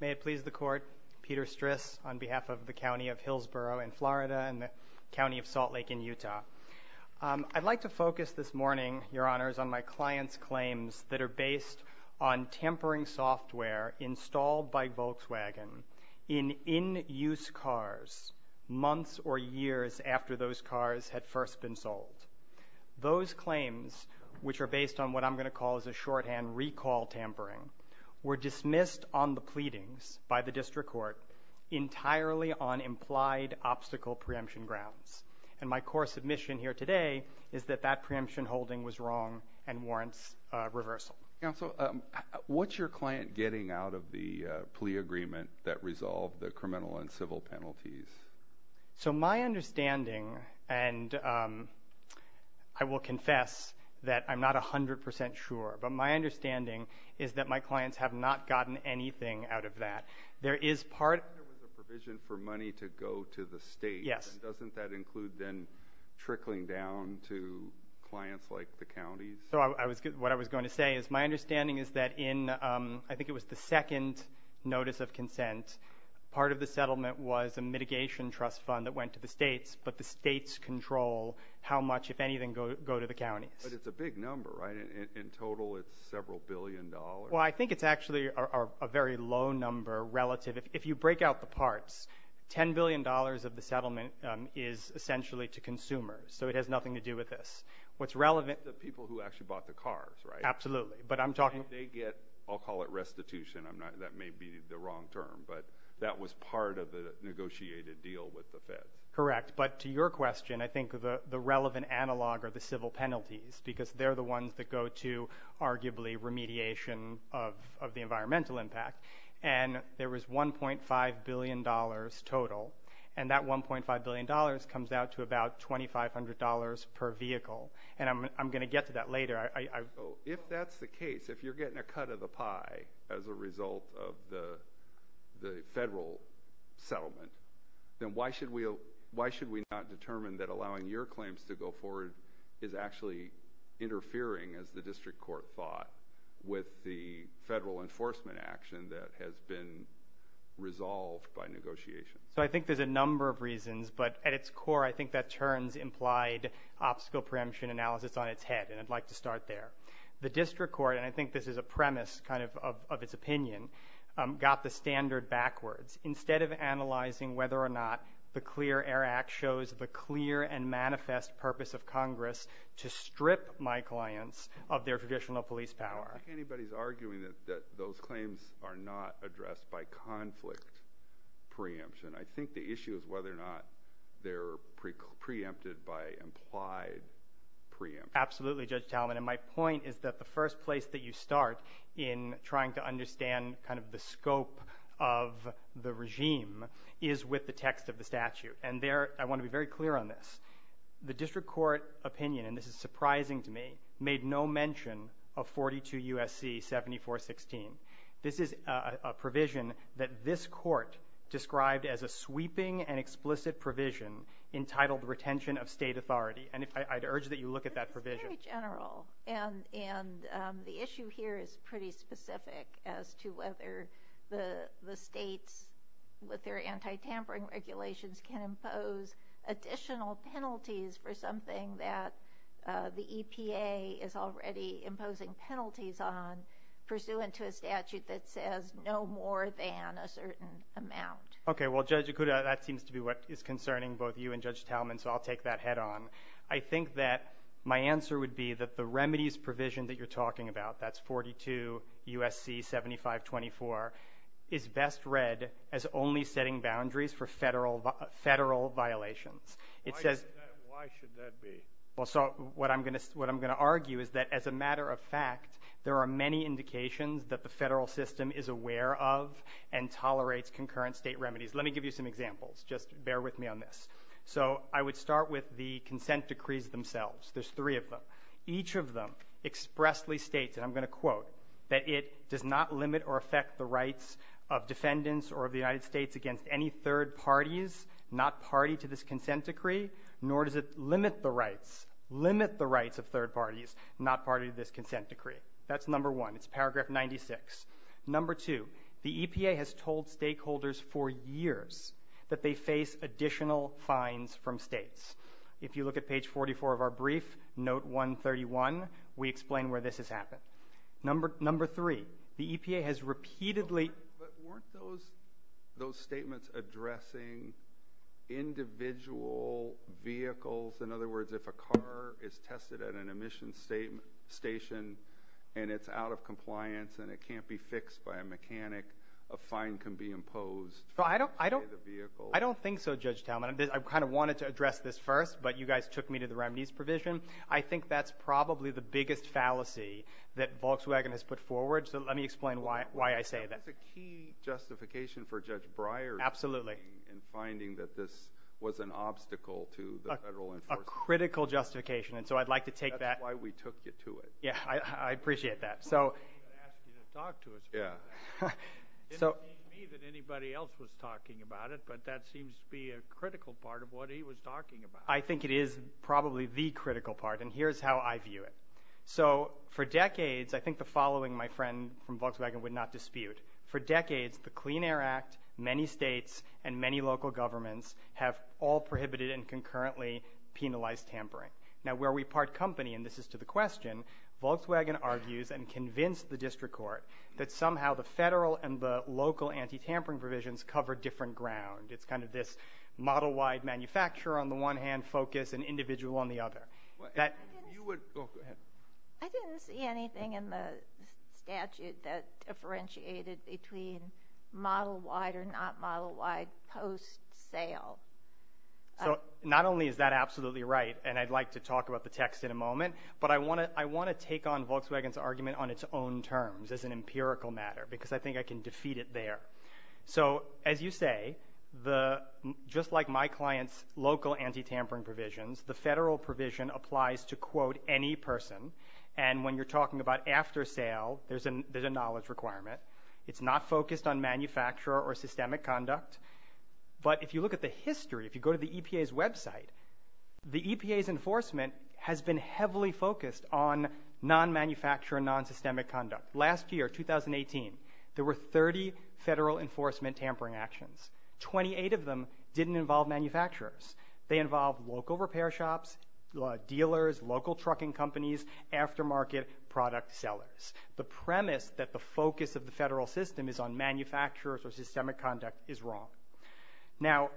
May it please the Court, Peter Stris on behalf of the County of Hillsborough in Florida and the County of Salt Lake in Utah. I'd like to focus this morning, Your Honors, on my client's claims that are based on tampering software installed by Volkswagen in in-use cars months or years after those cars had first been sold. Those claims, which are based on what I'm going to call as a shorthand recall tampering, were dismissed on the pleadings by the District Court entirely on implied obstacle preemption grounds. And my core submission here today is that that preemption holding was wrong and warrants reversal. Counsel, what's your client getting out of the plea agreement that resolved the criminal and civil penalties? So my understanding, and I will confess that I'm not 100% sure, but my understanding is that my clients have not gotten anything out of that. There is part... There was a provision for money to go to the state. Yes. Doesn't that include then trickling down to clients like the counties? So what I was going to say is my understanding is that in, I think it was the second notice of consent, part of the settlement was a mitigation trust fund that went to the states, but the states control how much, if anything, go to the counties. But it's a big number, right? And in total, it's several billion dollars. Well, I think it's actually a very low number relative. If you break out the parts, $10 billion of the settlement is essentially to consumers. So it has nothing to do with this. What's relevant... The people who actually bought the cars, right? Absolutely. But I'm talking... And they get, I'll call it restitution. I'm not... That may be the wrong term, but that was part of the negotiated deal with the feds. Correct. But to your question, I think the relevant analog are the civil penalties because they're the ones that go to arguably remediation of the environmental impact. And there was $1.5 billion total. And that $1.5 billion comes out to about $2,500 per vehicle. And I'm going to get to that later. If that's the case, if you're getting a cut of the pie as a result of the federal settlement, then why should we not determine that allowing your claims to go forward is actually interfering, as the district court thought, with the federal enforcement action that has been resolved by negotiation? So I think there's a number of reasons, but at its core, I think that turns implied obstacle preemption analysis on its head. And I'd like to start there. The district court, and I think this is a premise kind of of its opinion, got the standard backwards. Instead of analyzing whether or not the CLEAR Air Act shows the clear and manifest purpose of Congress to strip my clients of their traditional police power. I don't think anybody's arguing that those claims are not addressed by conflict preemption. I think the issue is whether or not they're preempted by implied preemption. Absolutely, Judge Talman. And my point is that the first place that you start in trying to understand kind of the scope of the regime is with the text of the statute. And there, I want to be very clear on this. The district court opinion, and this is surprising to me, made no mention of 42 U.S.C. 7416. This is a provision that this court described as a sweeping and explicit provision entitled retention of state authority. And I'd urge that you look at that provision. It's very general, and the issue here is pretty specific as to whether the states, with their anti-tampering regulations, can impose additional penalties for something that the EPA is already imposing penalties on pursuant to a statute that says no more than a certain amount. Okay, well Judge Ikuda, that seems to be what is concerning both you and Judge Talman, so I'll take that head on. I think that my answer would be that the remedies provision that you're talking about, that's 42 U.S.C. 7524, is best read as only setting boundaries for federal violations. Why should that be? Well, so what I'm going to argue is that as a matter of fact, there are many indications that the federal system is aware of and tolerates concurrent state remedies. Let me give you some examples. Just bear with me on this. So I would start with the consent decrees themselves. There's three of them. Each of them expressly states, and I'm going to quote, that it does not limit or affect the rights of defendants or of the United States against any third parties not party to this consent decree, nor does it limit the rights, limit the rights of third parties not party to this consent decree. That's number one. It's paragraph 96. Number two, the EPA has told stakeholders for years that they face additional fines from states. If you look at page 44 of our brief, note 131, we explain where this has happened. Number three, the EPA has repeatedly... But weren't those statements addressing individual vehicles? In other words, if a car is tested at an emission station and it's out of compliance and it can't be fixed by a mechanic, a fine can be imposed for the vehicle. I don't think so, Judge Talmadge. I kind of wanted to address this first, but you guys took me to the remedies provision. I think that's probably the biggest fallacy that Volkswagen has put forward, so let me explain why I say that. That's a key justification for Judge Breyer's finding in finding that this was an obstacle to the federal enforcement. A critical justification, and so I'd like to take that... That's why we took you to it. Yeah, I appreciate that. I didn't mean to ask you to talk to us about that. It didn't seem to me that anybody else was talking about it, but that seems to be a critical part of what he was talking about. I think it is probably the critical part, and here's how I view it. So for decades, I think the following, my friend from Volkswagen, would not dispute. For decades, the Clean Air Act, many states, and many local governments have all prohibited and concurrently penalized tampering. Now, where we part company, and this is to the question, Volkswagen argues and convinced the district court that somehow the federal and the local anti-tampering provisions cover different ground. It's kind of this model-wide manufacturer on the one hand, focus, and individual on the other. I didn't see anything in the statute that differentiated between model-wide or not model-wide post-sale. So not only is that absolutely right, and I'd like to talk about the text in a moment, but I want to take on Volkswagen's argument on its own terms as an empirical matter, because I think I can defeat it there. So as you say, just like my client's local anti-tampering provisions, the federal provision applies to, quote, any person. And when you're talking about after sale, there's a knowledge requirement. It's not focused on manufacturer or systemic conduct. But if you look at the history, if you go to the EPA's website, the EPA's enforcement has been heavily focused on non-manufacturer, non-systemic conduct. Last year, 2018, there were 30 federal enforcement tampering actions. Twenty-eight of them didn't involve manufacturers. They involved local repair shops, dealers, local trucking companies, aftermarket product sellers. The premise that the focus of the federal system is on manufacturers or systemic conduct is wrong. Now,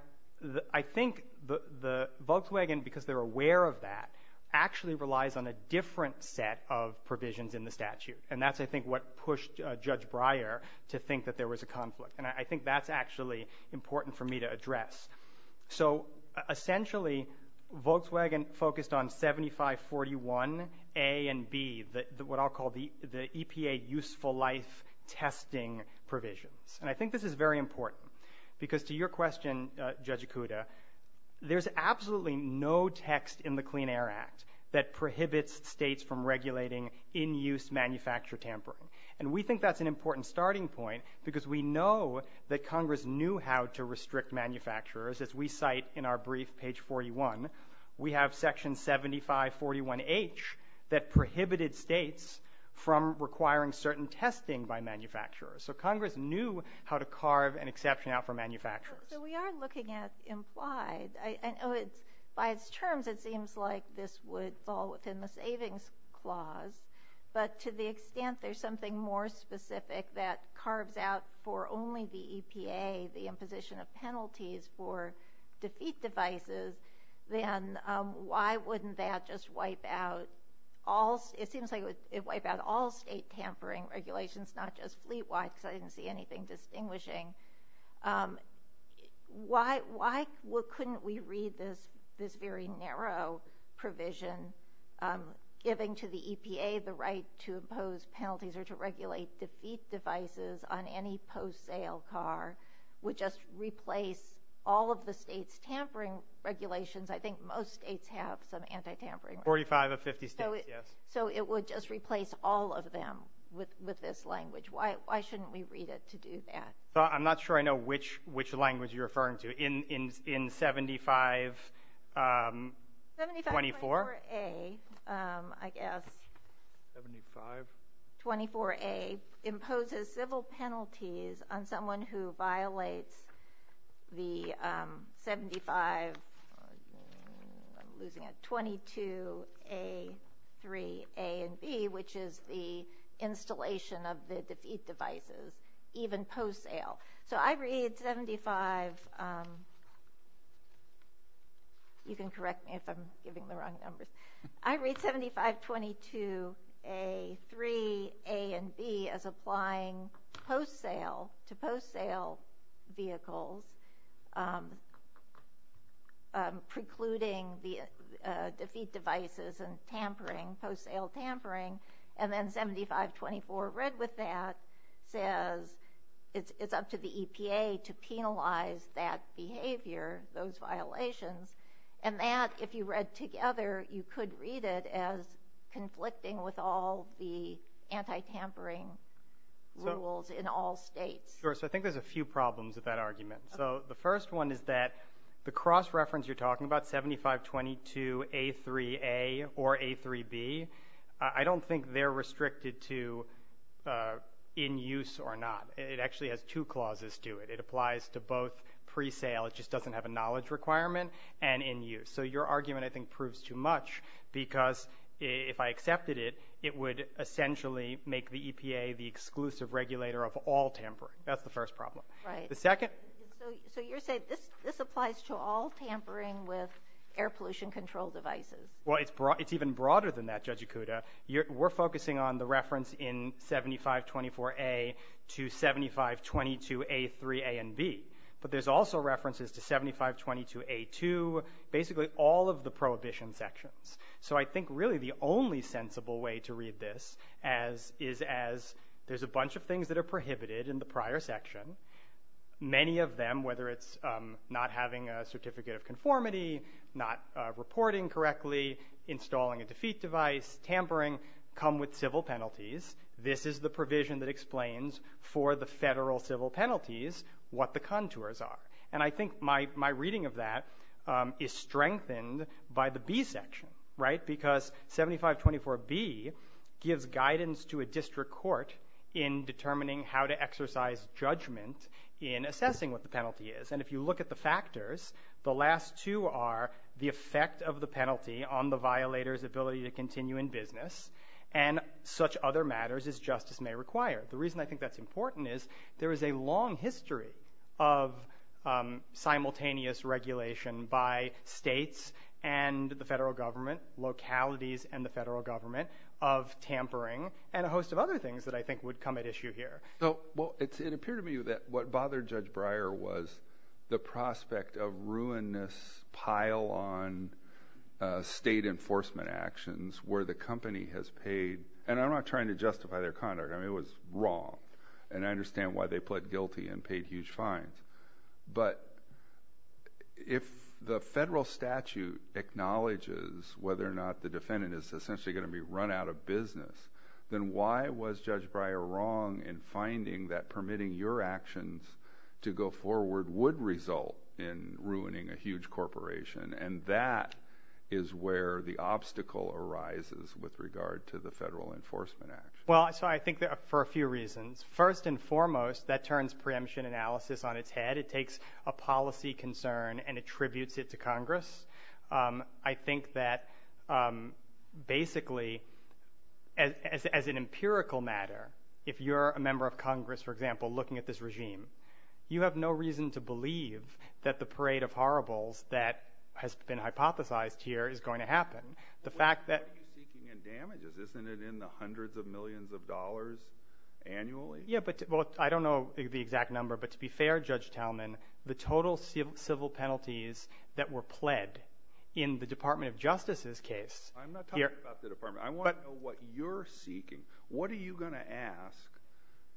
I think the Volkswagen, because they're aware of that, actually relies on a different set of provisions in the statute. And that's, I think, what pushed Judge Breyer to think that there was a conflict. And I think that's actually important for me to address. So essentially, Volkswagen focused on 7541A and B, what I'll call the EPA useful life testing provisions. And I think this is very important. Because to your question, Judge Ikuda, there's absolutely no text in the Clean Air Act that prohibits states from regulating in-use manufacturer tampering. And we think that's an important starting point, because we know that Congress knew how to restrict manufacturers, as we cite in our brief, page 41. We have section 7541H that prohibited states from requiring certain testing by manufacturers. So Congress knew how to carve an exception out for manufacturers. So we are looking at implied. By its terms, it seems like this would fall within the savings clause. But to the extent there's something more specific that carves out for only the EPA the imposition of penalties for defeat devices, then why wouldn't that just wipe out all state tampering regulations, not just fleet wide, because I didn't see anything distinguishing? Why couldn't we read this very narrow provision, giving to the EPA the right to impose penalties or to regulate defeat devices on any post-sale car would just replace all of the state's tampering regulations? I think most states have some anti-tampering. 45 of 50 states, yes. So it would just replace all of them with this language. Why shouldn't we read it to do that? I'm not sure I know which language you're referring to. In 7524? 7524A, I guess. 75? 24A imposes civil penalties on someone who violates the 75, I'm losing it, 22A3, I'm losing it, 22A3A and B, which is the installation of the defeat devices, even post-sale. So I read 75, you can correct me if I'm giving the wrong numbers. I read 7522A3A and B as applying post-sale to post-sale vehicles, precluding the defeat devices and tampering, post-sale tampering, and then 7524 read with that says it's up to the EPA to penalize that behavior, those violations, and that, if you read together, you could read it as conflicting with all the anti-tampering rules in all states. Sure. So I think there's a few problems with that argument. So the first one is that the cross-reference you're talking about, 7522A3A or A3B, I don't think they're restricted to in use or not. It actually has two clauses to it. It applies to both pre-sale, it just doesn't have a knowledge requirement, and in use. So your argument, I think, proves too much because if I accepted it, it would essentially make the EPA the exclusive regulator of all tampering. That's the first problem. Right. The second... So you're saying this applies to all tampering with air pollution control devices. Well, it's even broader than that, Judge Ikuda. We're focusing on the reference in 7524A to 7522A3A and B, but there's also references to 7522A2, basically all of the prohibition sections. So I think really the only sensible way to read this is as there's a bunch of things that are prohibited in the prior section. Many of them, whether it's not having a certificate of conformity, not reporting correctly, installing a defeat device, tampering, come with civil penalties. This is the provision that explains for the federal civil penalties what the contours are. And I think my reading of that is strengthened by the B section, right, because 7524B gives guidance to a district court in determining how to exercise judgment in assessing what the penalty is. And if you look at the factors, the last two are the effect of the penalty on the violator's ability to continue in business and such other matters as justice may require. The reason I think that's important is there is a long history of simultaneous regulation by states and the federal government, localities and the federal government, of tampering and a host of other things that I think would come at issue here. So, well, it appeared to me that what bothered Judge Breyer was the prospect of ruinous pile-on state enforcement actions where the company has paid, and I'm not trying to justify their conduct, I mean, it was wrong, and I understand why they pled guilty and paid huge fines. But if the federal statute acknowledges whether or not the defendant is essentially going to be run out of business, then why was Judge Breyer wrong in finding that permitting your actions to go forward would result in ruining a huge corporation? And that is where the obstacle arises with regard to the Federal Enforcement Act. Well, so I think for a few reasons. First and foremost, that turns preemption analysis on its head. It takes a policy concern and attributes it to Congress. I think that, basically, as an empirical matter, if you're a member of Congress, for example, looking at this regime, you have no reason to believe that the parade of horribles that has been hypothesized here is going to happen. The fact that... Yeah, but, well, I don't know the exact number, but to be fair, Judge Talman, the total civil penalties that were pled in the Department of Justice's case... I'm not talking about the department. I want to know what you're seeking. What are you going to ask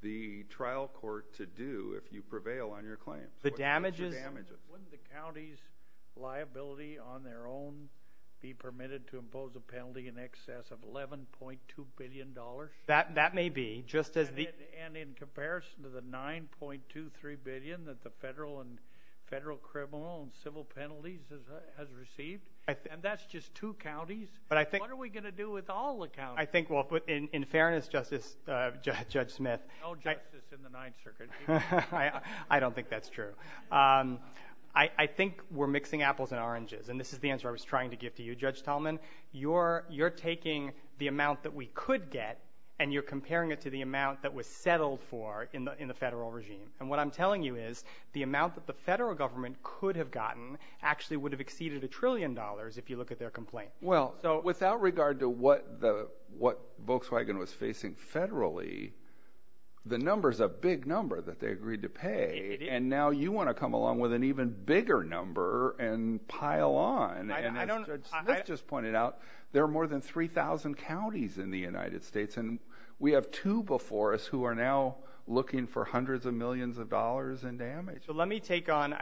the trial court to do if you prevail on your claims? The damages... Wouldn't the county's liability on their own be permitted to impose a penalty in excess of $11.2 billion? That may be, just as the... And in comparison to the $9.23 billion that the federal and federal criminal and civil penalties has received? And that's just two counties? But I think... What are we going to do with all the counties? I think, well, in fairness, Justice... Judge Smith... No justice in the Ninth Circuit. I don't think that's true. I think we're mixing apples and oranges, and this is the answer I was trying to give to you, Judge Talman. You're taking the amount that we could get, and you're comparing it to the amount that was settled for in the federal regime. And what I'm telling you is, the amount that the federal government could have gotten actually would have exceeded a trillion dollars if you look at their complaint. Well, without regard to what Volkswagen was facing federally, the number's a big number that they agreed to pay, and now you want to come along with an even bigger number and pile on. And as Judge Smith just pointed out... There are more than 3,000 counties in the United States, and we have two before us who are now looking for hundreds of millions of dollars in damage. Let me take on...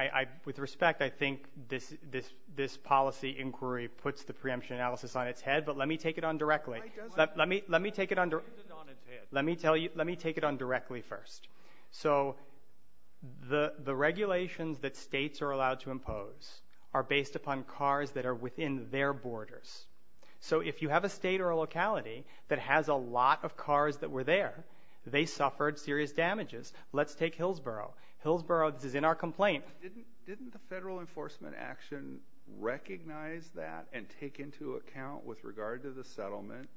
With respect, I think this policy inquiry puts the preemption analysis on its head, but let me take it on directly. Let me take it on directly first. So the regulations that states are allowed to impose are based upon cars that are within their borders. So if you have a state or a locality that has a lot of cars that were there, they suffered serious damages. Let's take Hillsborough. Hillsborough, this is in our complaint. Didn't the federal enforcement action recognize that and take into account, with regard to the settlement,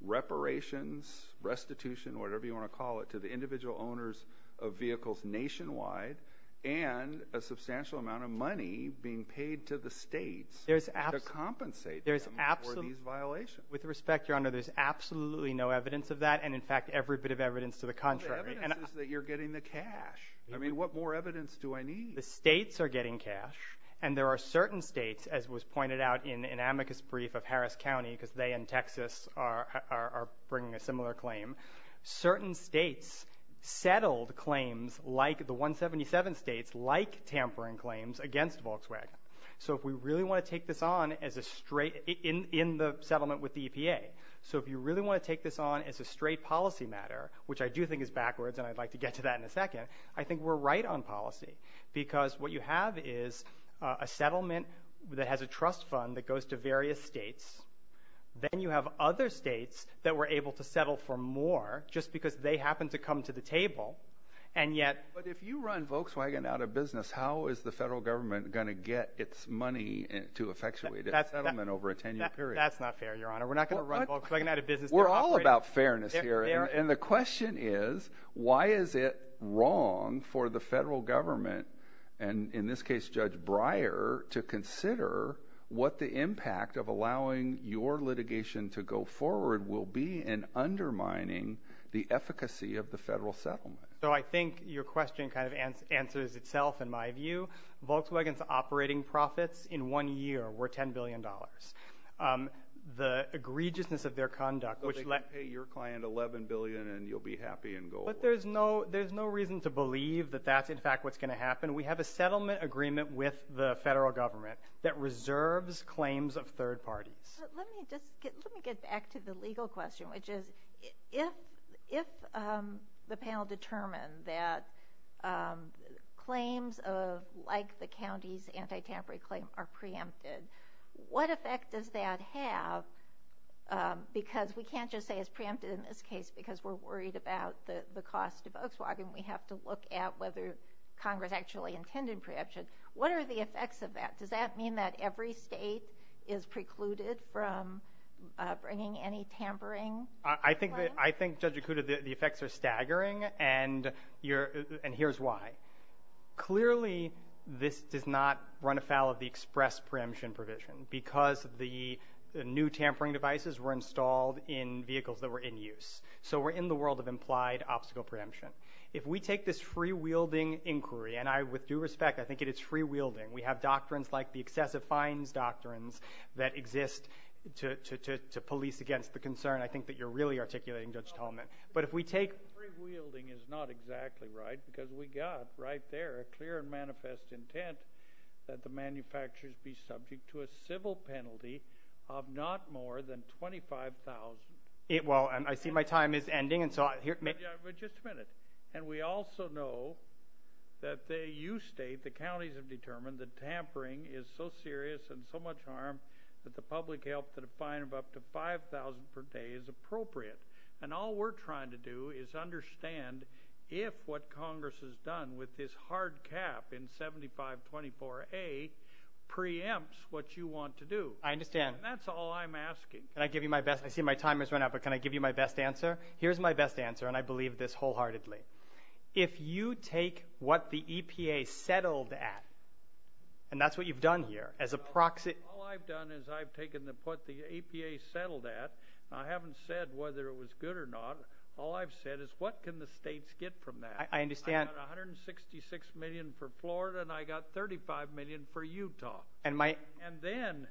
reparations, restitution, whatever you want to call it, to the individual owners of vehicles nationwide, and a substantial amount of money being paid to the states? There's absolutely... To compensate them for these violations. With respect, Your Honor, there's absolutely no evidence of that, and in fact, every bit of evidence to the contrary. But the evidence is that you're getting the cash. I mean, what more evidence do I need? The states are getting cash, and there are certain states, as was pointed out in an amicus brief of Harris County, because they and Texas are bringing a similar claim, certain states settled claims like the 177 states like tampering claims against Volkswagen. So if we really want to take this on as a straight... In the settlement with the EPA, so if you really want to take this on as a straight policy matter, which I do think is backwards, and I'd like to get to that in a second, I think we're right on policy. Because what you have is a settlement that has a trust fund that goes to various states, then you have other states that were able to settle for more, just because they happened to come to the table, and yet... But if you run Volkswagen out of business, how is the federal government going to get its money to effectuate a settlement over a 10-year period? That's not fair, Your Honor. We're not going to run Volkswagen out of business... We're all about fairness here, and the question is, why is it wrong for the federal government, and in this case, Judge Breyer, to consider what the impact of allowing your litigation to go forward will be in undermining the efficacy of the federal settlement? So I think your question kind of answers itself, in my view. Volkswagen's operating profits in one year were $10 billion. The egregiousness of their conduct, which led... So they can pay your client $11 billion, and you'll be happy and go... But there's no reason to believe that that's, in fact, what's going to happen. We have a settlement agreement with the federal government that reserves claims of third parties. Let me just get... Let me get back to the legal question, which is, if the panel determined that claims of, like the county's anti-tampering claim, are preempted, what effect does that have? Because we can't just say it's preempted in this case because we're worried about the cost of Volkswagen. We have to look at whether Congress actually intended preemption. What are the effects of that? Does that mean that every state is precluded from bringing any tampering claim? I think, Judge Yakuta, the effects are staggering, and here's why. Clearly this does not run afoul of the express preemption provision because the new tampering devices were installed in vehicles that were in use. So we're in the world of implied obstacle preemption. If we take this free-wielding inquiry, and I, with due respect, I think it is free-wielding. We have doctrines like the excessive fines doctrines that exist to police against the concern. I think that you're really articulating, Judge Tolman. But if we take... Free-wielding is not exactly right because we got right there a clear and manifest intent that the manufacturers be subject to a civil penalty of not more than $25,000. Well, I see my time is ending, and so I... Yeah, but just a minute. And we also know that you state, the counties have determined that tampering is so serious and so much harm that the public health to the fine of up to $5,000 per day is appropriate. And all we're trying to do is understand if what Congress has done with this hard cap in 7524A preempts what you want to do. I understand. And that's all I'm asking. Can I give you my best... I see my time has run out, but can I give you my best answer? Here's my best answer, and I believe this wholeheartedly. If you take what the EPA settled at, and that's what you've done here, as a proxy... All I've done is I've taken what the EPA settled at, and I haven't said whether it was good or not. All I've said is, what can the states get from that? I understand. I got $166 million for Florida, and I got $35 million for Utah. And then,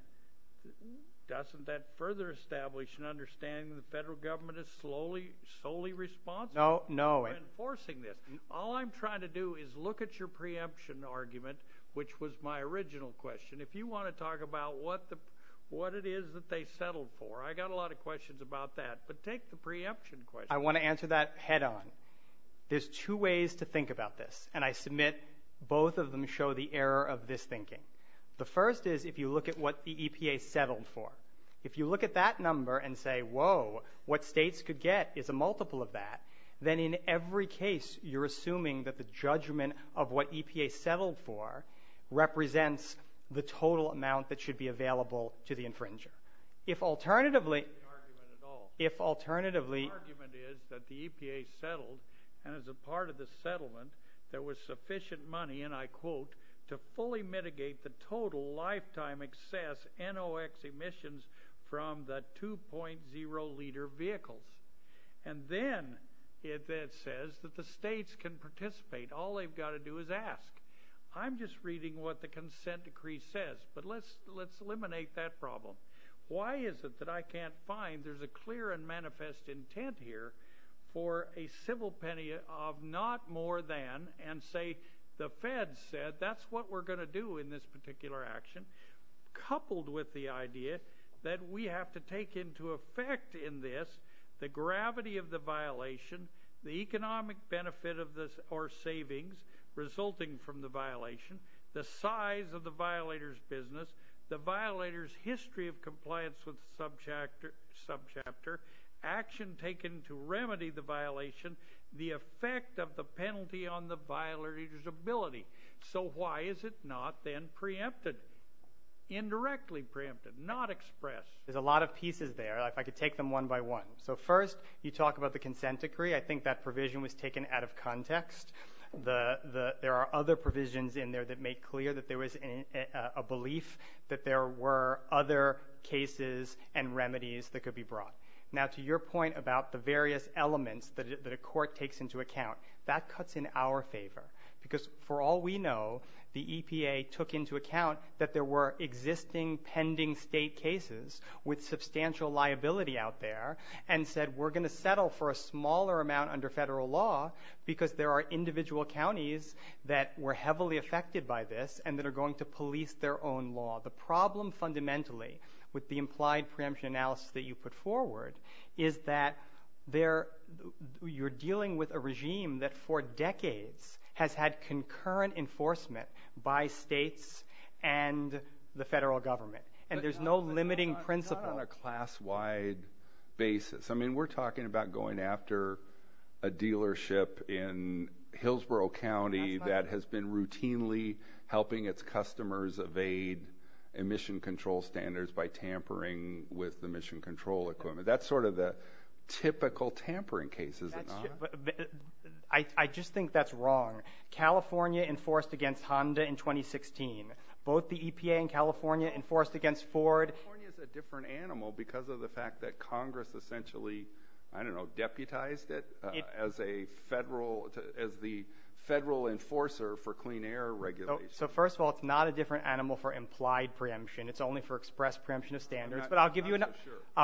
doesn't that further establish an understanding that the federal government is solely responsible for enforcing this? All I'm trying to do is look at your preemption argument, which was my original question. If you want to talk about what it is that they settled for, I got a lot of questions about that. But take the preemption question. I want to answer that head on. There's two ways to think about this. And I submit both of them show the error of this thinking. The first is if you look at what the EPA settled for. If you look at that number and say, whoa, what states could get is a multiple of that, then in every case, you're assuming that the judgment of what EPA settled for represents the total amount that should be available to the infringer. If alternatively... If alternatively... The argument is that the EPA settled, and as a part of the settlement, there was sufficient money, and I quote, to fully mitigate the total lifetime excess NOX emissions from the 2.0 liter vehicles. And then it says that the states can participate. All they've got to do is ask. I'm just reading what the consent decree says. But let's eliminate that problem. Why is it that I can't find there's a clear and manifest intent here for a civil penny of not more than, and say the Fed said that's what we're going to do in this particular action, coupled with the idea that we have to take into effect in this the gravity of the violation, the economic benefit of this or savings resulting from the violation, the size of the violator's business, the violator's history of compliance with the subchapter, action taken to remedy the violation, the effect of the penalty on the violator's ability. So why is it not then preempted? Indirectly preempted, not expressed. There's a lot of pieces there. If I could take them one by one. So first, you talk about the consent decree. I think that provision was taken out of context. There are other provisions in there that make clear that there was a belief that there were other cases and remedies that could be brought. Now to your point about the various elements that a court takes into account, that cuts in our favor because for all we know, the EPA took into account that there were existing pending state cases with substantial liability out there and said we're going to settle for a smaller amount under federal law because there are individual counties that were heavily affected by this and that are going to police their own law. The problem fundamentally with the implied preemption analysis that you put forward is that you're dealing with a regime that for decades has had concurrent enforcement by states and the federal government. And there's no limiting principle. It's not on a class-wide basis. We're talking about going after a dealership in Hillsborough County that has been routinely helping its customers evade emission control standards by tampering with the emission control equipment. That's sort of the typical tampering cases. I just think that's wrong. California enforced against Honda in 2016. Both the EPA and California enforced against Ford. California's a different animal because of the fact that Congress essentially, I don't know, is the federal enforcer for clean air regulation. So first of all, it's not a different animal for implied preemption. It's only for express preemption of standards. But I'll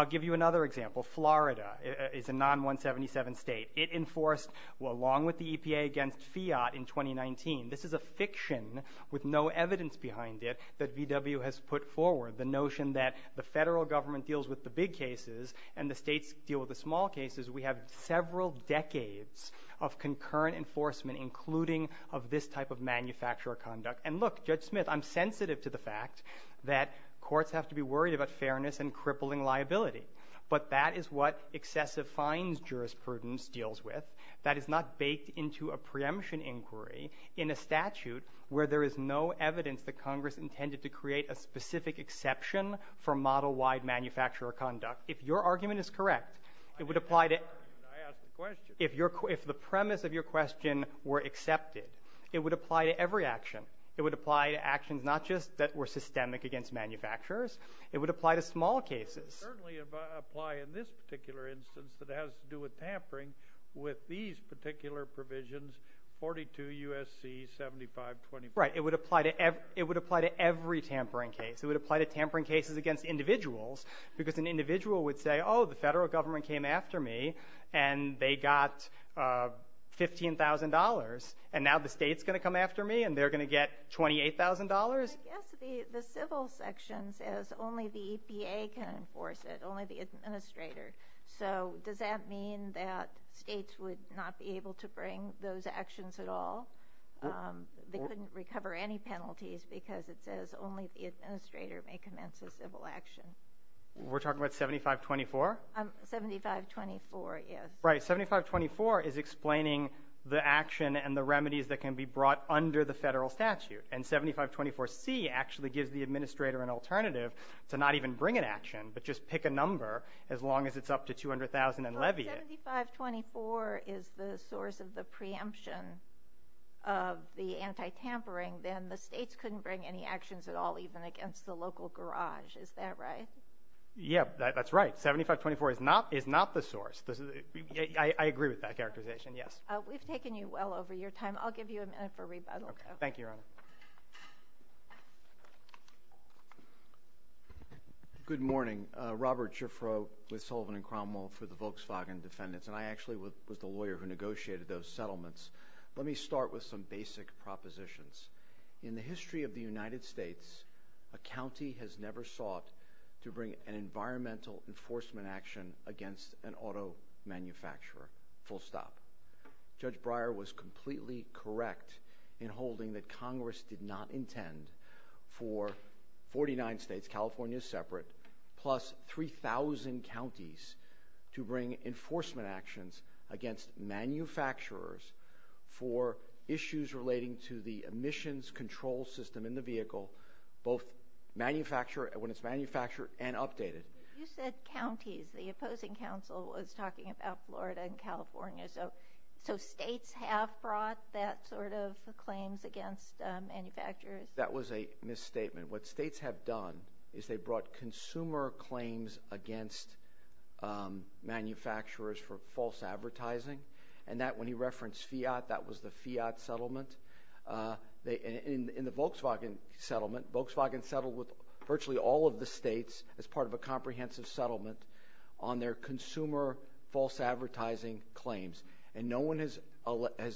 give you another example. Florida is a non-177 state. It enforced along with the EPA against Fiat in 2019. This is a fiction with no evidence behind it that VW has put forward, the notion that the federal government deals with the big cases and the states deal with the small cases. We have several decades of concurrent enforcement, including of this type of manufacturer conduct. And look, Judge Smith, I'm sensitive to the fact that courts have to be worried about fairness and crippling liability. But that is what excessive fines jurisprudence deals with. That is not baked into a preemption inquiry in a statute where there is no evidence that Congress intended to create a specific exception for model-wide manufacturer conduct. If your argument is correct, it would apply to... I asked the question. If the premise of your question were accepted, it would apply to every action. It would apply to actions not just that were systemic against manufacturers, it would apply to small cases. It would certainly apply in this particular instance that has to do with tampering with these particular provisions, 42 U.S.C. 7525. Right. It would apply to every tampering case. It would apply to tampering cases against individuals, because an individual would say, oh, the federal government came after me and they got $15,000, and now the state's going to come after me and they're going to get $28,000? I guess the civil section says only the EPA can enforce it, only the administrator. So does that mean that states would not be able to bring those actions at all? They couldn't recover any penalties because it says only the administrator may commence a civil action. We're talking about 7524? 7524, yes. Right. 7524 is explaining the action and the remedies that can be brought under the federal statute, and 7524C actually gives the administrator an alternative to not even bring an action, but just pick a number as long as it's up to $200,000 and levy it. If 7524 is the source of the preemption of the anti-tampering, then the states couldn't bring any actions at all, even against the local garage. Is that right? Yeah, that's right. 7524 is not the source. I agree with that characterization, yes. We've taken you well over your time. I'll give you a minute for rebuttal. Thank you, Your Honor. Good morning. Good morning. Robert Schiffro with Sullivan and Cromwell for the Volkswagen Defendants, and I actually was the lawyer who negotiated those settlements. Let me start with some basic propositions. In the history of the United States, a county has never sought to bring an environmental enforcement action against an auto manufacturer, full stop. Judge Breyer was completely correct in holding that Congress did not intend for 49 states, California is separate, plus 3,000 counties to bring enforcement actions against manufacturers for issues relating to the emissions control system in the vehicle, both when it's manufactured and updated. You said counties. The opposing counsel was talking about Florida and California, so states have brought that sort of claims against manufacturers? That was a misstatement. What states have done is they brought consumer claims against manufacturers for false advertising, and that when he referenced fiat, that was the fiat settlement. In the Volkswagen settlement, Volkswagen settled with virtually all of the states as part of a comprehensive settlement on their consumer false advertising claims, and no one has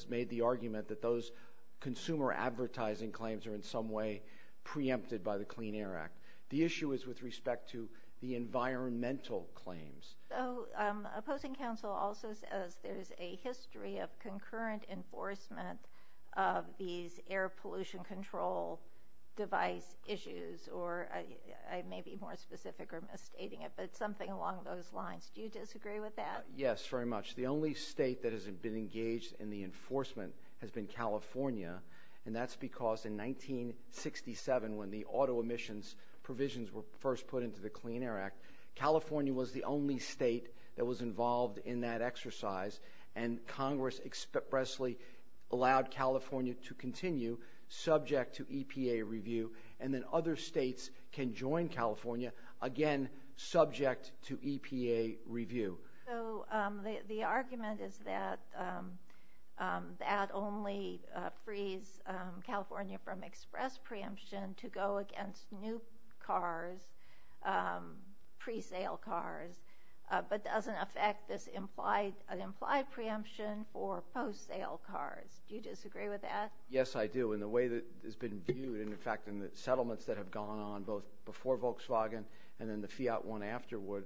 made the argument that those consumer advertising claims are in some way preempted by the Clean Air Act. The issue is with respect to the environmental claims. Opposing counsel also says there's a history of concurrent enforcement of these air pollution control device issues, or I may be more specific or misstating it, but something along those lines. Do you disagree with that? Yes, very much. The only state that has been engaged in the enforcement has been California, and that's because in 1967, when the auto emissions provisions were first put into the Clean Air Act, California was the only state that was involved in that exercise, and Congress expressly allowed California to continue subject to EPA review, and then other states can join California, again, subject to EPA review. So, the argument is that that only frees California from express preemption to go against new cars, pre-sale cars, but doesn't affect this implied preemption for post-sale cars. Do you disagree with that? Yes, I do. In the way that it's been viewed, and in fact in the settlements that have gone on, both before Volkswagen and then the Fiat One afterward,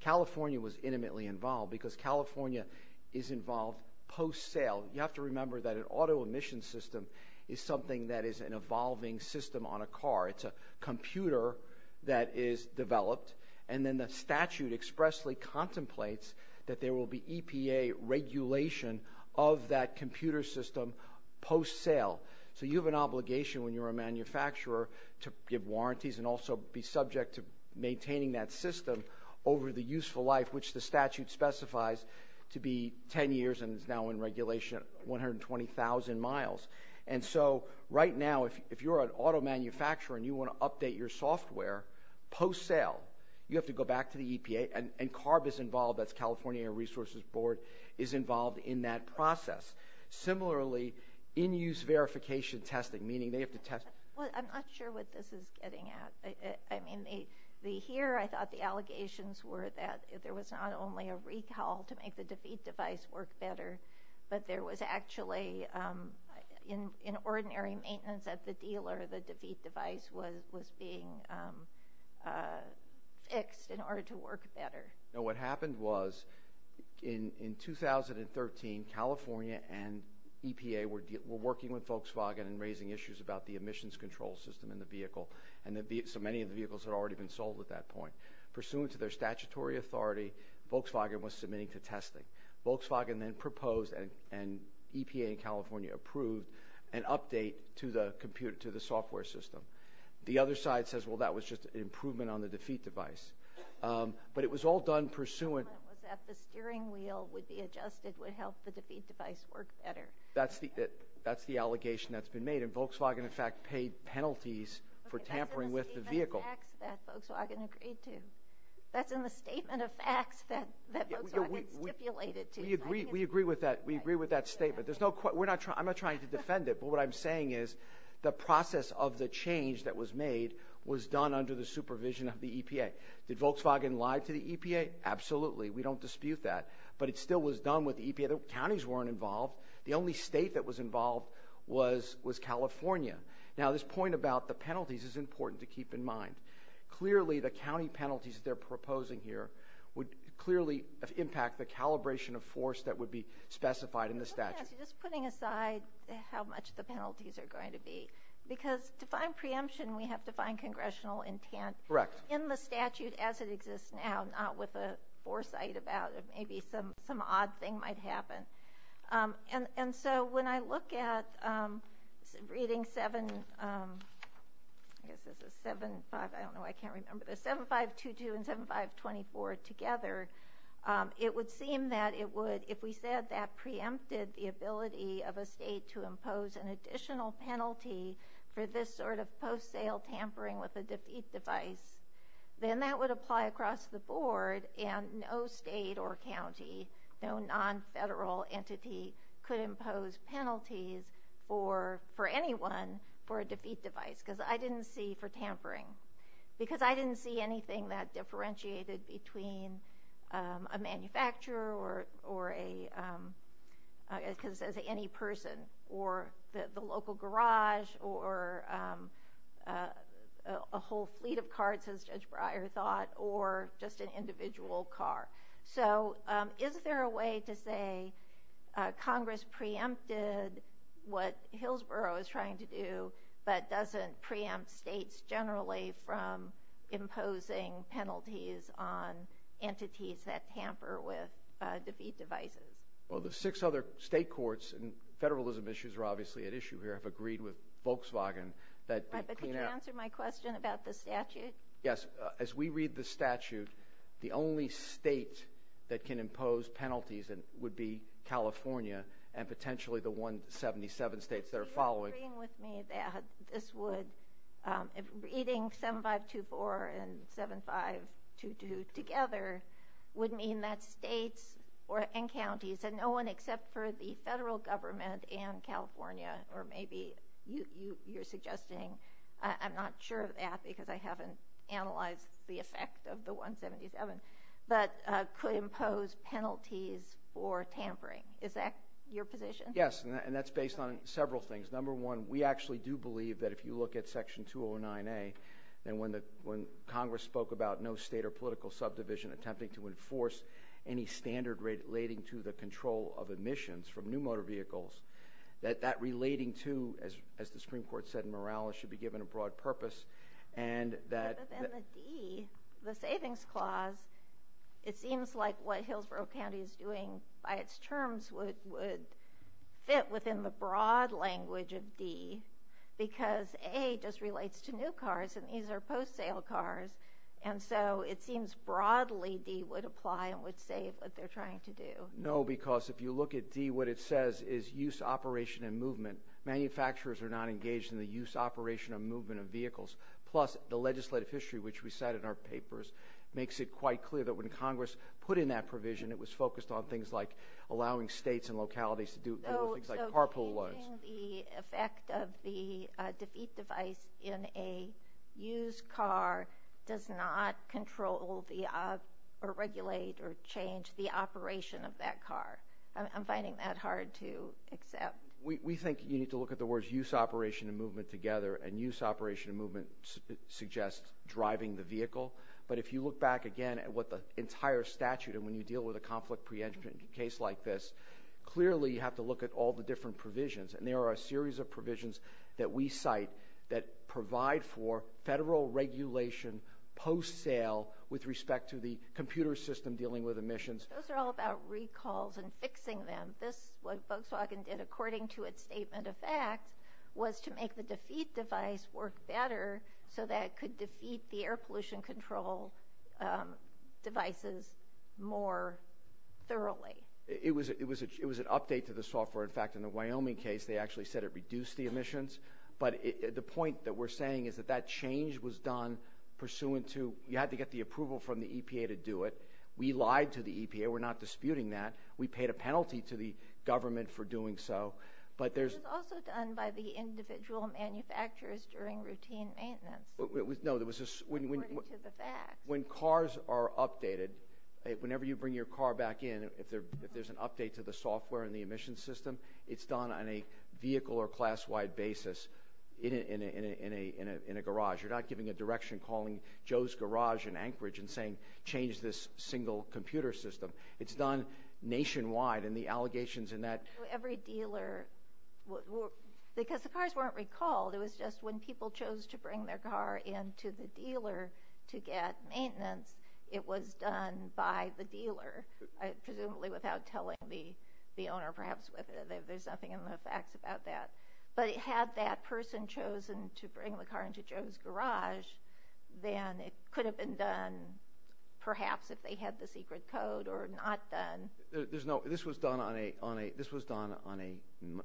California was intimately involved, because California is involved post-sale. You have to remember that an auto emission system is something that is an evolving system on a car. It's a computer that is developed, and then the statute expressly contemplates that there will be EPA regulation of that computer system post-sale, so you have an obligation when you're a manufacturer to give warranties and also be subject to maintaining that system over the useful life, which the statute specifies to be 10 years, and is now in regulation 120,000 miles. And so, right now, if you're an auto manufacturer and you want to update your software post-sale, you have to go back to the EPA, and CARB is involved, that's California Air Resources Board, is involved in that process. Similarly, in-use verification testing, meaning they have to test... Well, I'm not sure what this is getting at. I mean, here, I thought the allegations were that there was not only a recall to make the Defeat device work better, but there was actually, in ordinary maintenance at the dealer, the Defeat device was being fixed in order to work better. Now, what happened was, in 2013, California and EPA were working with Volkswagen and raising issues about the emissions control system in the vehicle, and so many of the vehicles had already been sold at that point. Pursuant to their statutory authority, Volkswagen was submitting to testing. Volkswagen then proposed, and EPA in California approved, an update to the software system. The other side says, well, that was just an improvement on the Defeat device. But it was all done pursuant... It was that the steering wheel would be adjusted, would help the Defeat device work better. That's the allegation that's been made, and Volkswagen, in fact, paid penalties for tampering with the vehicle. That's in the statement of facts that Volkswagen agreed to. That's in the statement of facts that Volkswagen stipulated to. We agree with that. We agree with that statement. There's no... We're not trying... I'm not trying to defend it, but what I'm saying is the process of the change that was made was done under the supervision of the EPA. Did Volkswagen lie to the EPA? Absolutely. We don't dispute that. But it still was done with the EPA. Counties weren't involved. The only state that was involved was California. Now this point about the penalties is important to keep in mind. Clearly the county penalties that they're proposing here would clearly impact the calibration of force that would be specified in the statute. Let me ask you, just putting aside how much the penalties are going to be, because to find congressional intent in the statute as it exists now, not with a foresight about it, maybe some odd thing might happen. And so when I look at reading 7... I guess this is 7-5. I don't know. I can't remember. There's 7-5-2-2 and 7-5-24 together. It would seem that it would, if we said that preempted the ability of a state to impose an additional penalty for this sort of post-sale tampering with a defeat device, then that would apply across the board, and no state or county, no non-federal entity could impose penalties for anyone for a defeat device, because I didn't see for tampering. Because I didn't see anything that differentiated between a manufacturer or a... the local garage or a whole fleet of carts, as Judge Breyer thought, or just an individual car. So is there a way to say Congress preempted what Hillsborough is trying to do, but doesn't preempt states generally from imposing penalties on entities that tamper with defeat devices? Well, the six other state courts, and federalism issues are obviously at issue here, have agreed with Volkswagen that... Right, but could you answer my question about the statute? Yes. As we read the statute, the only state that can impose penalties would be California and potentially the 177 states that are following... Are you agreeing with me that this would... Reading 7524 and 7522 together would mean that states and counties, and no one except for the federal government and California, or maybe you're suggesting... I'm not sure of that because I haven't analyzed the effect of the 177, but could impose penalties for tampering. Is that your position? Yes, and that's based on several things. Number one, we actually do believe that if you look at section 209A, and when Congress spoke about no state or political subdivision attempting to enforce any standard relating to the control of emissions from new motor vehicles, that that relating to, as the Supreme Court said in Morales, should be given a broad purpose, and that... Other than the D, the savings clause, it seems like what Hillsborough County is doing by terms would fit within the broad language of D, because A just relates to new cars, and these are post-sale cars, and so it seems broadly D would apply and would save what they're trying to do. No, because if you look at D, what it says is use, operation, and movement. Manufacturers are not engaged in the use, operation, or movement of vehicles. Plus, the legislative history, which we cite in our papers, makes it quite clear that when allowing states and localities to do things like carpool loans... So changing the effect of the defeat device in a used car does not control or regulate or change the operation of that car. I'm finding that hard to accept. We think you need to look at the words use, operation, and movement together, and use, operation, and movement suggests driving the vehicle, but if you look back again at what a conflict pre-entry case like this, clearly you have to look at all the different provisions, and there are a series of provisions that we cite that provide for federal regulation post-sale with respect to the computer system dealing with emissions. Those are all about recalls and fixing them. This, what Volkswagen did according to its statement of fact, was to make the defeat control devices more thoroughly. It was an update to the software. In fact, in the Wyoming case, they actually said it reduced the emissions, but the point that we're saying is that that change was done pursuant to... You had to get the approval from the EPA to do it. We lied to the EPA. We're not disputing that. We paid a penalty to the government for doing so, but there's... It was also done by the individual manufacturers during routine maintenance. No, there was a... According to the facts. When cars are updated, whenever you bring your car back in, if there's an update to the software and the emissions system, it's done on a vehicle or class-wide basis in a garage. You're not giving a direction calling Joe's Garage in Anchorage and saying, change this single computer system. It's done nationwide, and the allegations in that... Every dealer... Because the cars weren't recalled. It was just when people chose to bring their car into the dealer to get maintenance, it was done by the dealer, presumably without telling the owner, perhaps. There's nothing in the facts about that. But had that person chosen to bring the car into Joe's Garage, then it could have been done, perhaps, if they had the secret code or not done. This was done on a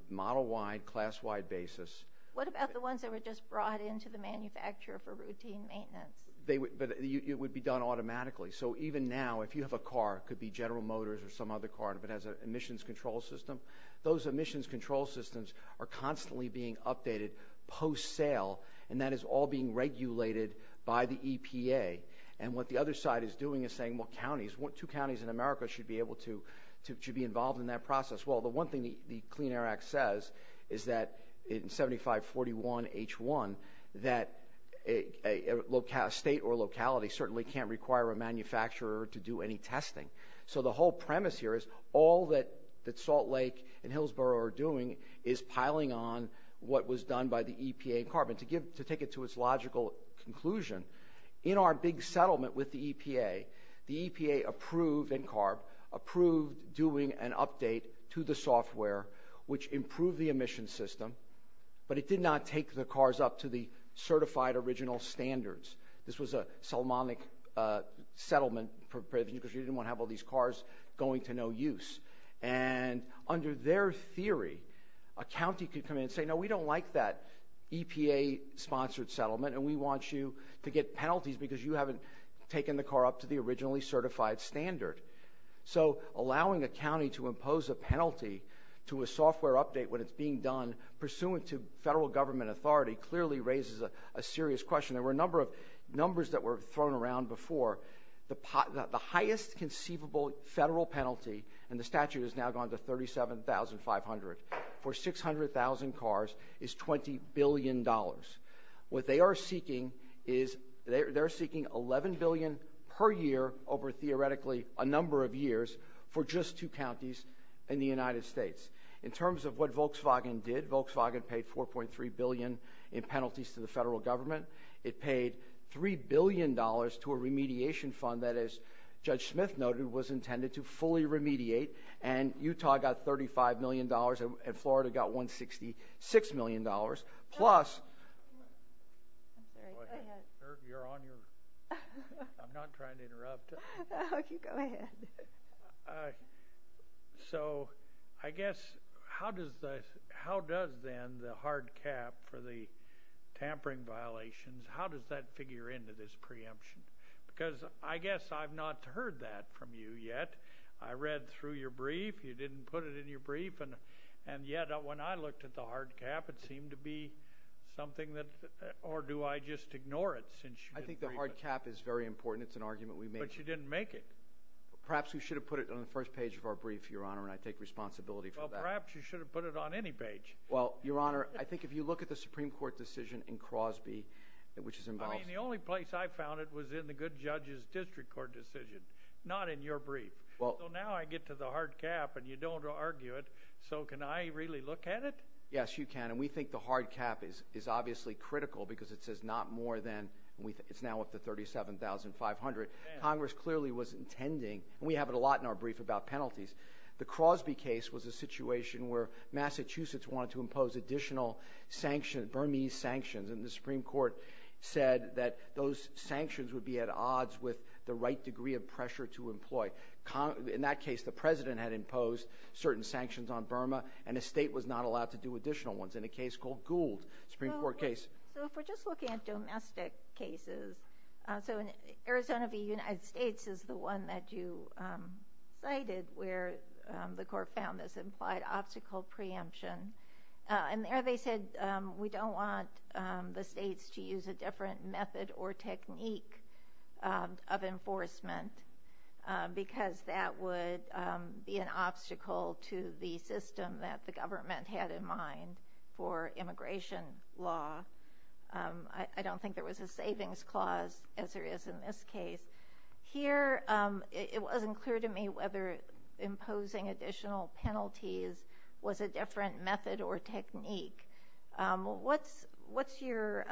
model-wide, class-wide basis. What about the ones that were just brought into the manufacturer for routine maintenance? It would be done automatically. So even now, if you have a car, it could be General Motors or some other car, and if it has an emissions control system, those emissions control systems are constantly being updated post-sale, and that is all being regulated by the EPA. And what the other side is doing is saying, well, counties, two counties in America should be involved in that process. Well, the one thing the Clean Air Act says is that in 7541H1, that a state or locality certainly can't require a manufacturer to do any testing. So the whole premise here is all that Salt Lake and Hillsborough are doing is piling on what was done by the EPA and CARB. And to take it to its logical conclusion, in our big settlement with the EPA, the EPA approved – and CARB – approved doing an update to the software, which improved the emissions system, but it did not take the cars up to the certified original standards. This was a Solmonic settlement, because you didn't want to have all these cars going to no use. And under their theory, a county could come in and say, no, we don't like that EPA-sponsored settlement, and we want you to get penalties because you haven't taken the car up to the originally certified standard. So allowing a county to impose a penalty to a software update when it's being done pursuant to federal government authority clearly raises a serious question. There were a number of numbers that were thrown around before. The highest conceivable federal penalty – and the statute has now gone to $37,500 – for 600,000 cars is $20 billion. What they are seeking is – they're seeking $11 billion per year over theoretically a number of years for just two counties in the United States. In terms of what Volkswagen did, Volkswagen paid $4.3 billion in penalties to the federal government. It paid $3 billion to a remediation fund that, as Judge Smith noted, was intended to fully So, I guess, how does then the hard cap for the tampering violations, how does that figure into this preemption? Because I guess I've not heard that from you yet. I read through your brief. You didn't put it in your brief. And yet, when I looked at the hard cap, it seemed to be something that – or do I just ignore it? I think the hard cap is very important. It's an argument we made. But you didn't make it. Perhaps we should have put it on the first page of our brief, Your Honor, and I take responsibility for that. Well, perhaps you should have put it on any page. Well, Your Honor, I think if you look at the Supreme Court decision in Crosby, which is I mean, the only place I found it was in the good judge's district court decision, not in your brief. Well, now I get to the hard cap and you don't argue it. So, can I really look at it? Yes, you can. And we think the hard cap is obviously critical because it says not more than – it's now up to 37,500. Congress clearly was intending – and we have it a lot in our brief about penalties. The Crosby case was a situation where Massachusetts wanted to impose additional sanctions, Burmese sanctions. And the Supreme Court said that those sanctions would be at odds with the right degree of pressure to employ. In that case, the President had imposed certain sanctions on Burma and the state was not allowed to do additional ones. In a case called Gould, Supreme Court case – So if we're just looking at domestic cases – so in Arizona v. United States is the one that you cited where the court found this implied obstacle preemption. And there they said we don't want the states to use a different method or technique of that because that would be an obstacle to the system that the government had in mind for immigration law. I don't think there was a savings clause, as there is in this case. Here, it wasn't clear to me whether imposing additional penalties was a different method or technique. What's your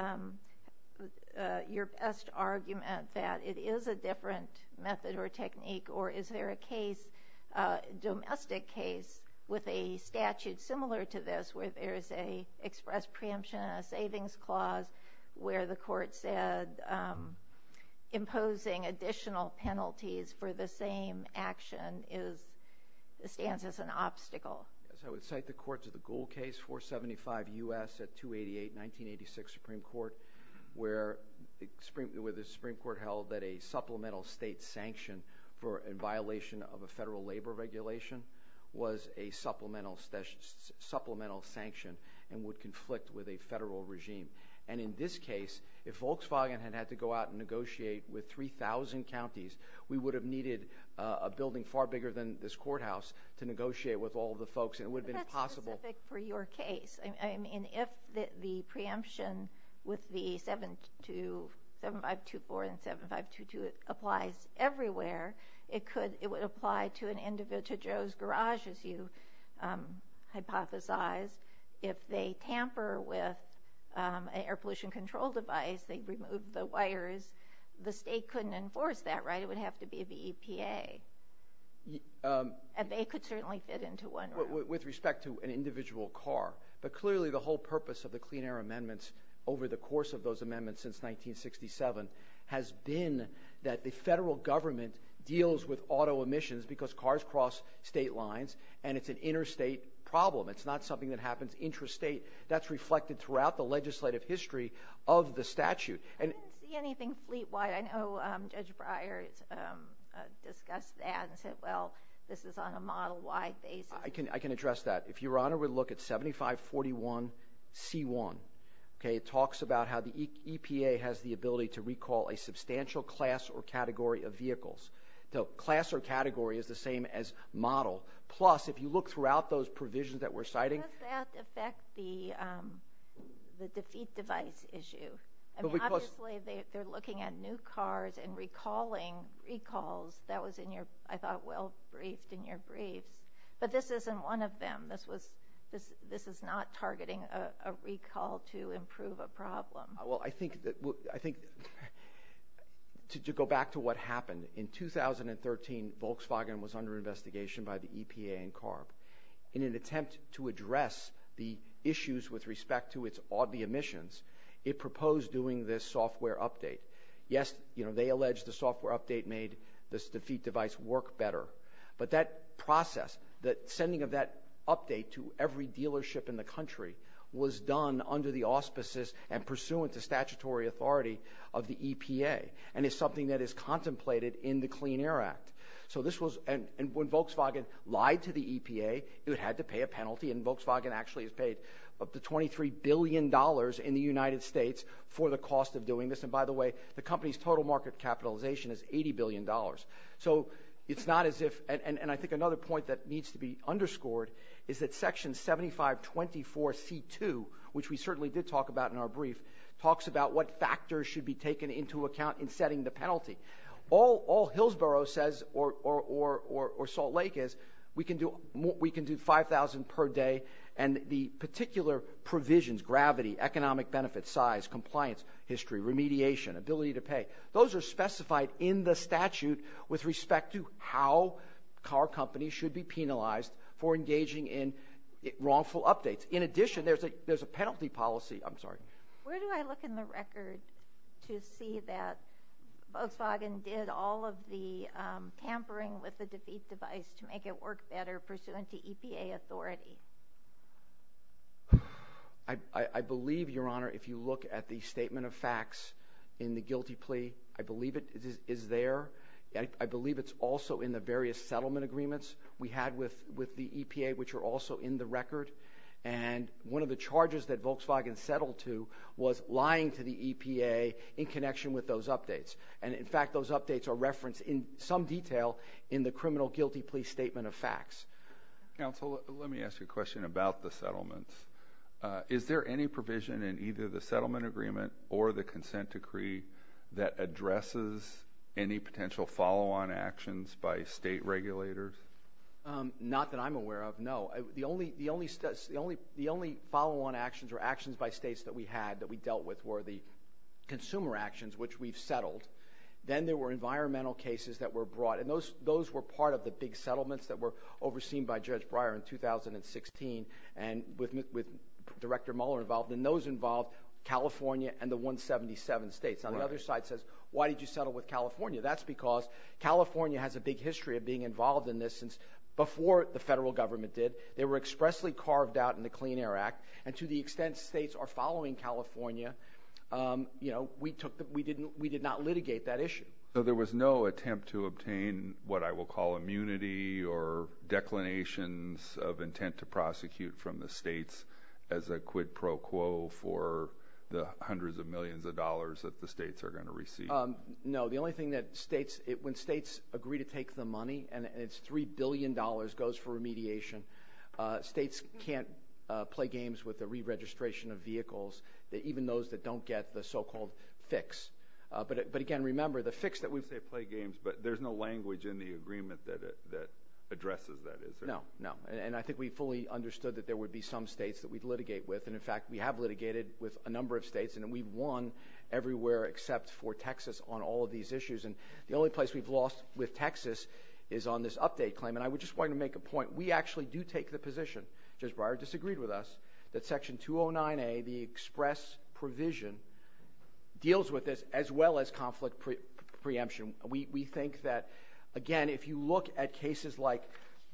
best argument that it is a different method or technique? Or is there a case – domestic case with a statute similar to this where there is a express preemption and a savings clause where the court said imposing additional penalties for the same action is – stands as an obstacle? As I would cite the courts of the Gould case, 475 U.S. at 288, 1986 Supreme Court, where the Supreme Court held that a supplemental state sanction for a violation of a federal labor regulation was a supplemental sanction and would conflict with a federal regime. And in this case, if Volkswagen had had to go out and negotiate with 3,000 counties, we would have needed a building far bigger than this courthouse to negotiate with all the folks, and it would have been impossible. But that's specific for your case. I mean, if the preemption with the 7524 and 7522 applies everywhere, it could – it would apply to an individual – to Joe's garage, as you hypothesized. If they tamper with an air pollution control device, they remove the wires, the state couldn't enforce that, right? It would have to be the EPA. And they could certainly fit into one room. With respect to an individual car. But clearly, the whole purpose of the Clean Air Amendments over the course of those amendments since 1967 has been that the federal government deals with auto emissions because cars cross state lines and it's an interstate problem. It's not something that happens intrastate. That's reflected throughout the legislative history of the statute. I didn't see anything fleet-wide. I know Judge Breyer discussed that and said, well, this is on a model-wide basis. I can address that. If Your Honor would look at 7541C1, okay, it talks about how the EPA has the ability to recall a substantial class or category of vehicles. So class or category is the same as model. Plus, if you look throughout those provisions that we're citing – How does that affect the defeat device issue? I mean, obviously, they're looking at new cars and recalling recalls. That was in your – I thought well-briefed in your briefs. But this isn't one of them. This was – this is not targeting a recall to improve a problem. Well, I think that – I think – to go back to what happened. In 2013, Volkswagen was under investigation by the EPA and CARB in an attempt to address the issues with respect to its audi emissions. It proposed doing this software update. Yes, they alleged the software update made this defeat device work better. But that process, the sending of that update to every dealership in the country was done under the auspices and pursuant to statutory authority of the EPA and is something that is contemplated in the Clean Air Act. So this was – and when Volkswagen lied to the EPA, it had to pay a penalty, and Volkswagen actually has paid up to $23 billion in the United States for the cost of doing this. And by the way, the company's total market capitalization is $80 billion. So it's not as if – and I think another point that needs to be underscored is that Section 7524C2, which we certainly did talk about in our brief, talks about what factors All Hillsborough says, or Salt Lake, is we can do 5,000 per day, and the particular provisions – gravity, economic benefits, size, compliance, history, remediation, ability to pay – those are specified in the statute with respect to how car companies should be penalized for engaging in wrongful updates. In addition, there's a penalty policy – I'm sorry. Where do I look in the record to see that Volkswagen did all of the tampering with the defeat device to make it work better pursuant to EPA authority? I believe, Your Honor, if you look at the statement of facts in the guilty plea, I believe it is there. I believe it's also in the various settlement agreements we had with the EPA, which are also in the record. And one of the charges that Volkswagen settled to was lying to the EPA in connection with those updates. And in fact, those updates are referenced in some detail in the criminal guilty plea statement of facts. Counsel, let me ask you a question about the settlements. Is there any provision in either the settlement agreement or the consent decree that addresses any potential follow-on actions by state regulators? Not that I'm aware of, no. The only follow-on actions or actions by states that we had that we dealt with were the consumer actions, which we've settled. Then there were environmental cases that were brought. And those were part of the big settlements that were overseen by Judge Breyer in 2016 and with Director Mueller involved. And those involved California and the 177 states. Now, the other side says, why did you settle with California? That's because California has a big history of being involved in this since before the they were expressly carved out in the Clean Air Act. And to the extent states are following California, we did not litigate that issue. So there was no attempt to obtain what I will call immunity or declinations of intent to prosecute from the states as a quid pro quo for the hundreds of millions of dollars that the states are going to receive? No. The only thing that states, when states agree to take the money and it's $3 billion goes for remediation. States can't play games with the re-registration of vehicles, even those that don't get the so-called fix. But again, remember, the fix that we... You say play games, but there's no language in the agreement that addresses that, is there? No, no. And I think we fully understood that there would be some states that we'd litigate with. And in fact, we have litigated with a number of states. And we've won everywhere except for Texas on all of these issues. And the only place we've lost with Texas is on this update claim. And I would just want to make a point. We actually do take the position, Judge Breyer disagreed with us, that Section 209A, the express provision, deals with this as well as conflict preemption. We think that, again, if you look at cases like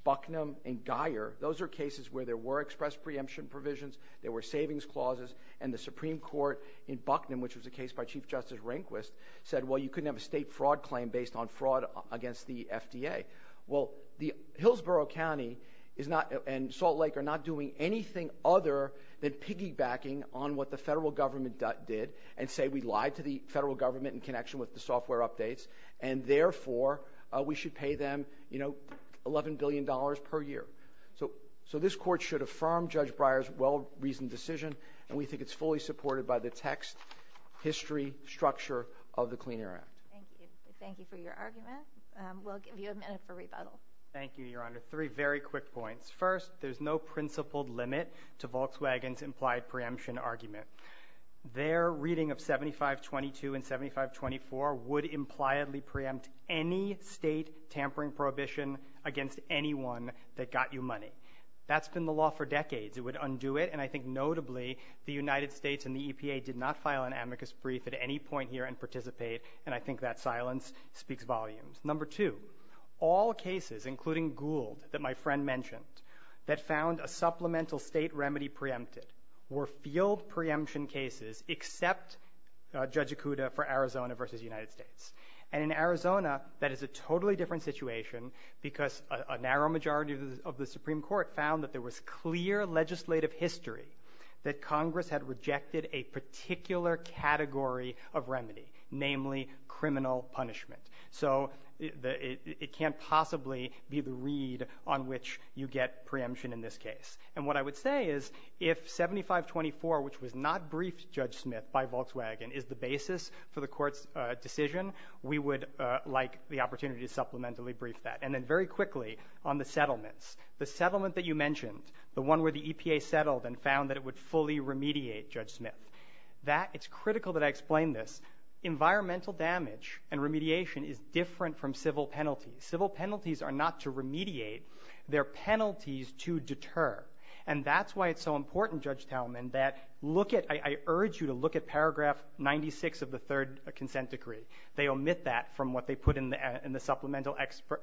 Bucknum and Guyer, those are cases where there were express preemption provisions, there were savings clauses, and the Supreme Court in Bucknum, which was a case by Chief Justice Rehnquist, said, well, you couldn't have a state fraud claim based on fraud against the FDA. Well, Hillsborough County and Salt Lake are not doing anything other than piggybacking on what the federal government did and say we lied to the federal government in connection with the software updates. And therefore, we should pay them $11 billion per year. So this Court should affirm Judge Breyer's well-reasoned decision. And we think it's fully supported by the text, history, structure of the Clean Air Act. Thank you. Thank you for your argument. We'll give you a minute for rebuttal. Thank you, Your Honor. Three very quick points. First, there's no principled limit to Volkswagen's implied preemption argument. Their reading of 7522 and 7524 would impliedly preempt any state tampering prohibition against anyone that got you money. That's been the law for decades. It would undo it. And I think notably, the United States and the EPA did not file an amicus brief at any point here and participate. And I think that silence speaks volumes. Number two, all cases, including Gould that my friend mentioned, that found a supplemental state remedy preempted were field preemption cases except Judge Acuda for Arizona versus the United States. And in Arizona, that is a totally different situation because a narrow majority of the Supreme Court found that there was clear legislative history that Congress had rejected a particular category of remedy, namely criminal punishment. So it can't possibly be the read on which you get preemption in this case. And what I would say is if 7524, which was not briefed, Judge Smith, by Volkswagen is the basis for the court's decision, we would like the opportunity to supplementally brief that. And then very quickly on the settlements, the settlement that you mentioned, the one where the EPA settled and found that it would fully remediate Judge Smith, that it's critical that I explain this. Environmental damage and remediation is different from civil penalties. Civil penalties are not to remediate. They're penalties to deter. And that's why it's so important, Judge Tailman, that look at, I urge you to look at paragraph 96 of the third consent decree. They omit that from what they put in the supplemental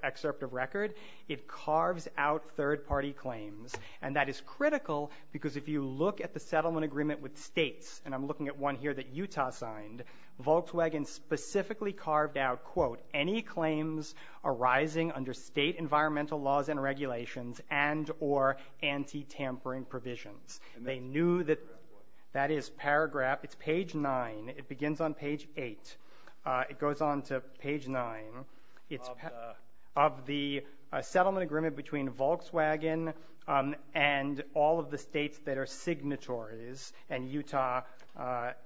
excerpt of record. It carves out third-party claims. And that is critical because if you look at the settlement agreement with states, and I'm looking at one here that Utah signed, Volkswagen specifically carved out, quote, any claims arising under state environmental laws and regulations and or anti-tampering provisions. They knew that that is paragraph, it's page 9. It begins on page 8. It goes on to page 9 of the settlement agreement between Volkswagen and all of the states that are signatories, and Utah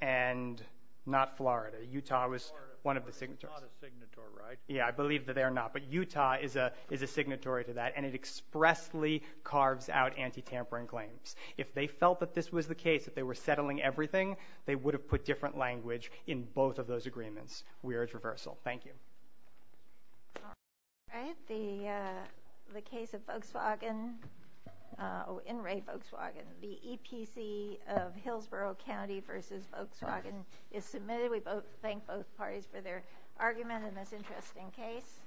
and, not Florida, Utah was one of the signatories. Florida is not a signatory, right? Yeah, I believe that they are not, but Utah is a signatory to that, and it expressly carves out anti-tampering claims. If they felt that this was the case, that they were settling everything, they would have put different language in both of those agreements. We urge reversal. Thank you. All right. The case of Volkswagen, in-rate Volkswagen, the EPC of Hillsborough County v. Volkswagen is submitted. We thank both parties for their argument in this interesting case.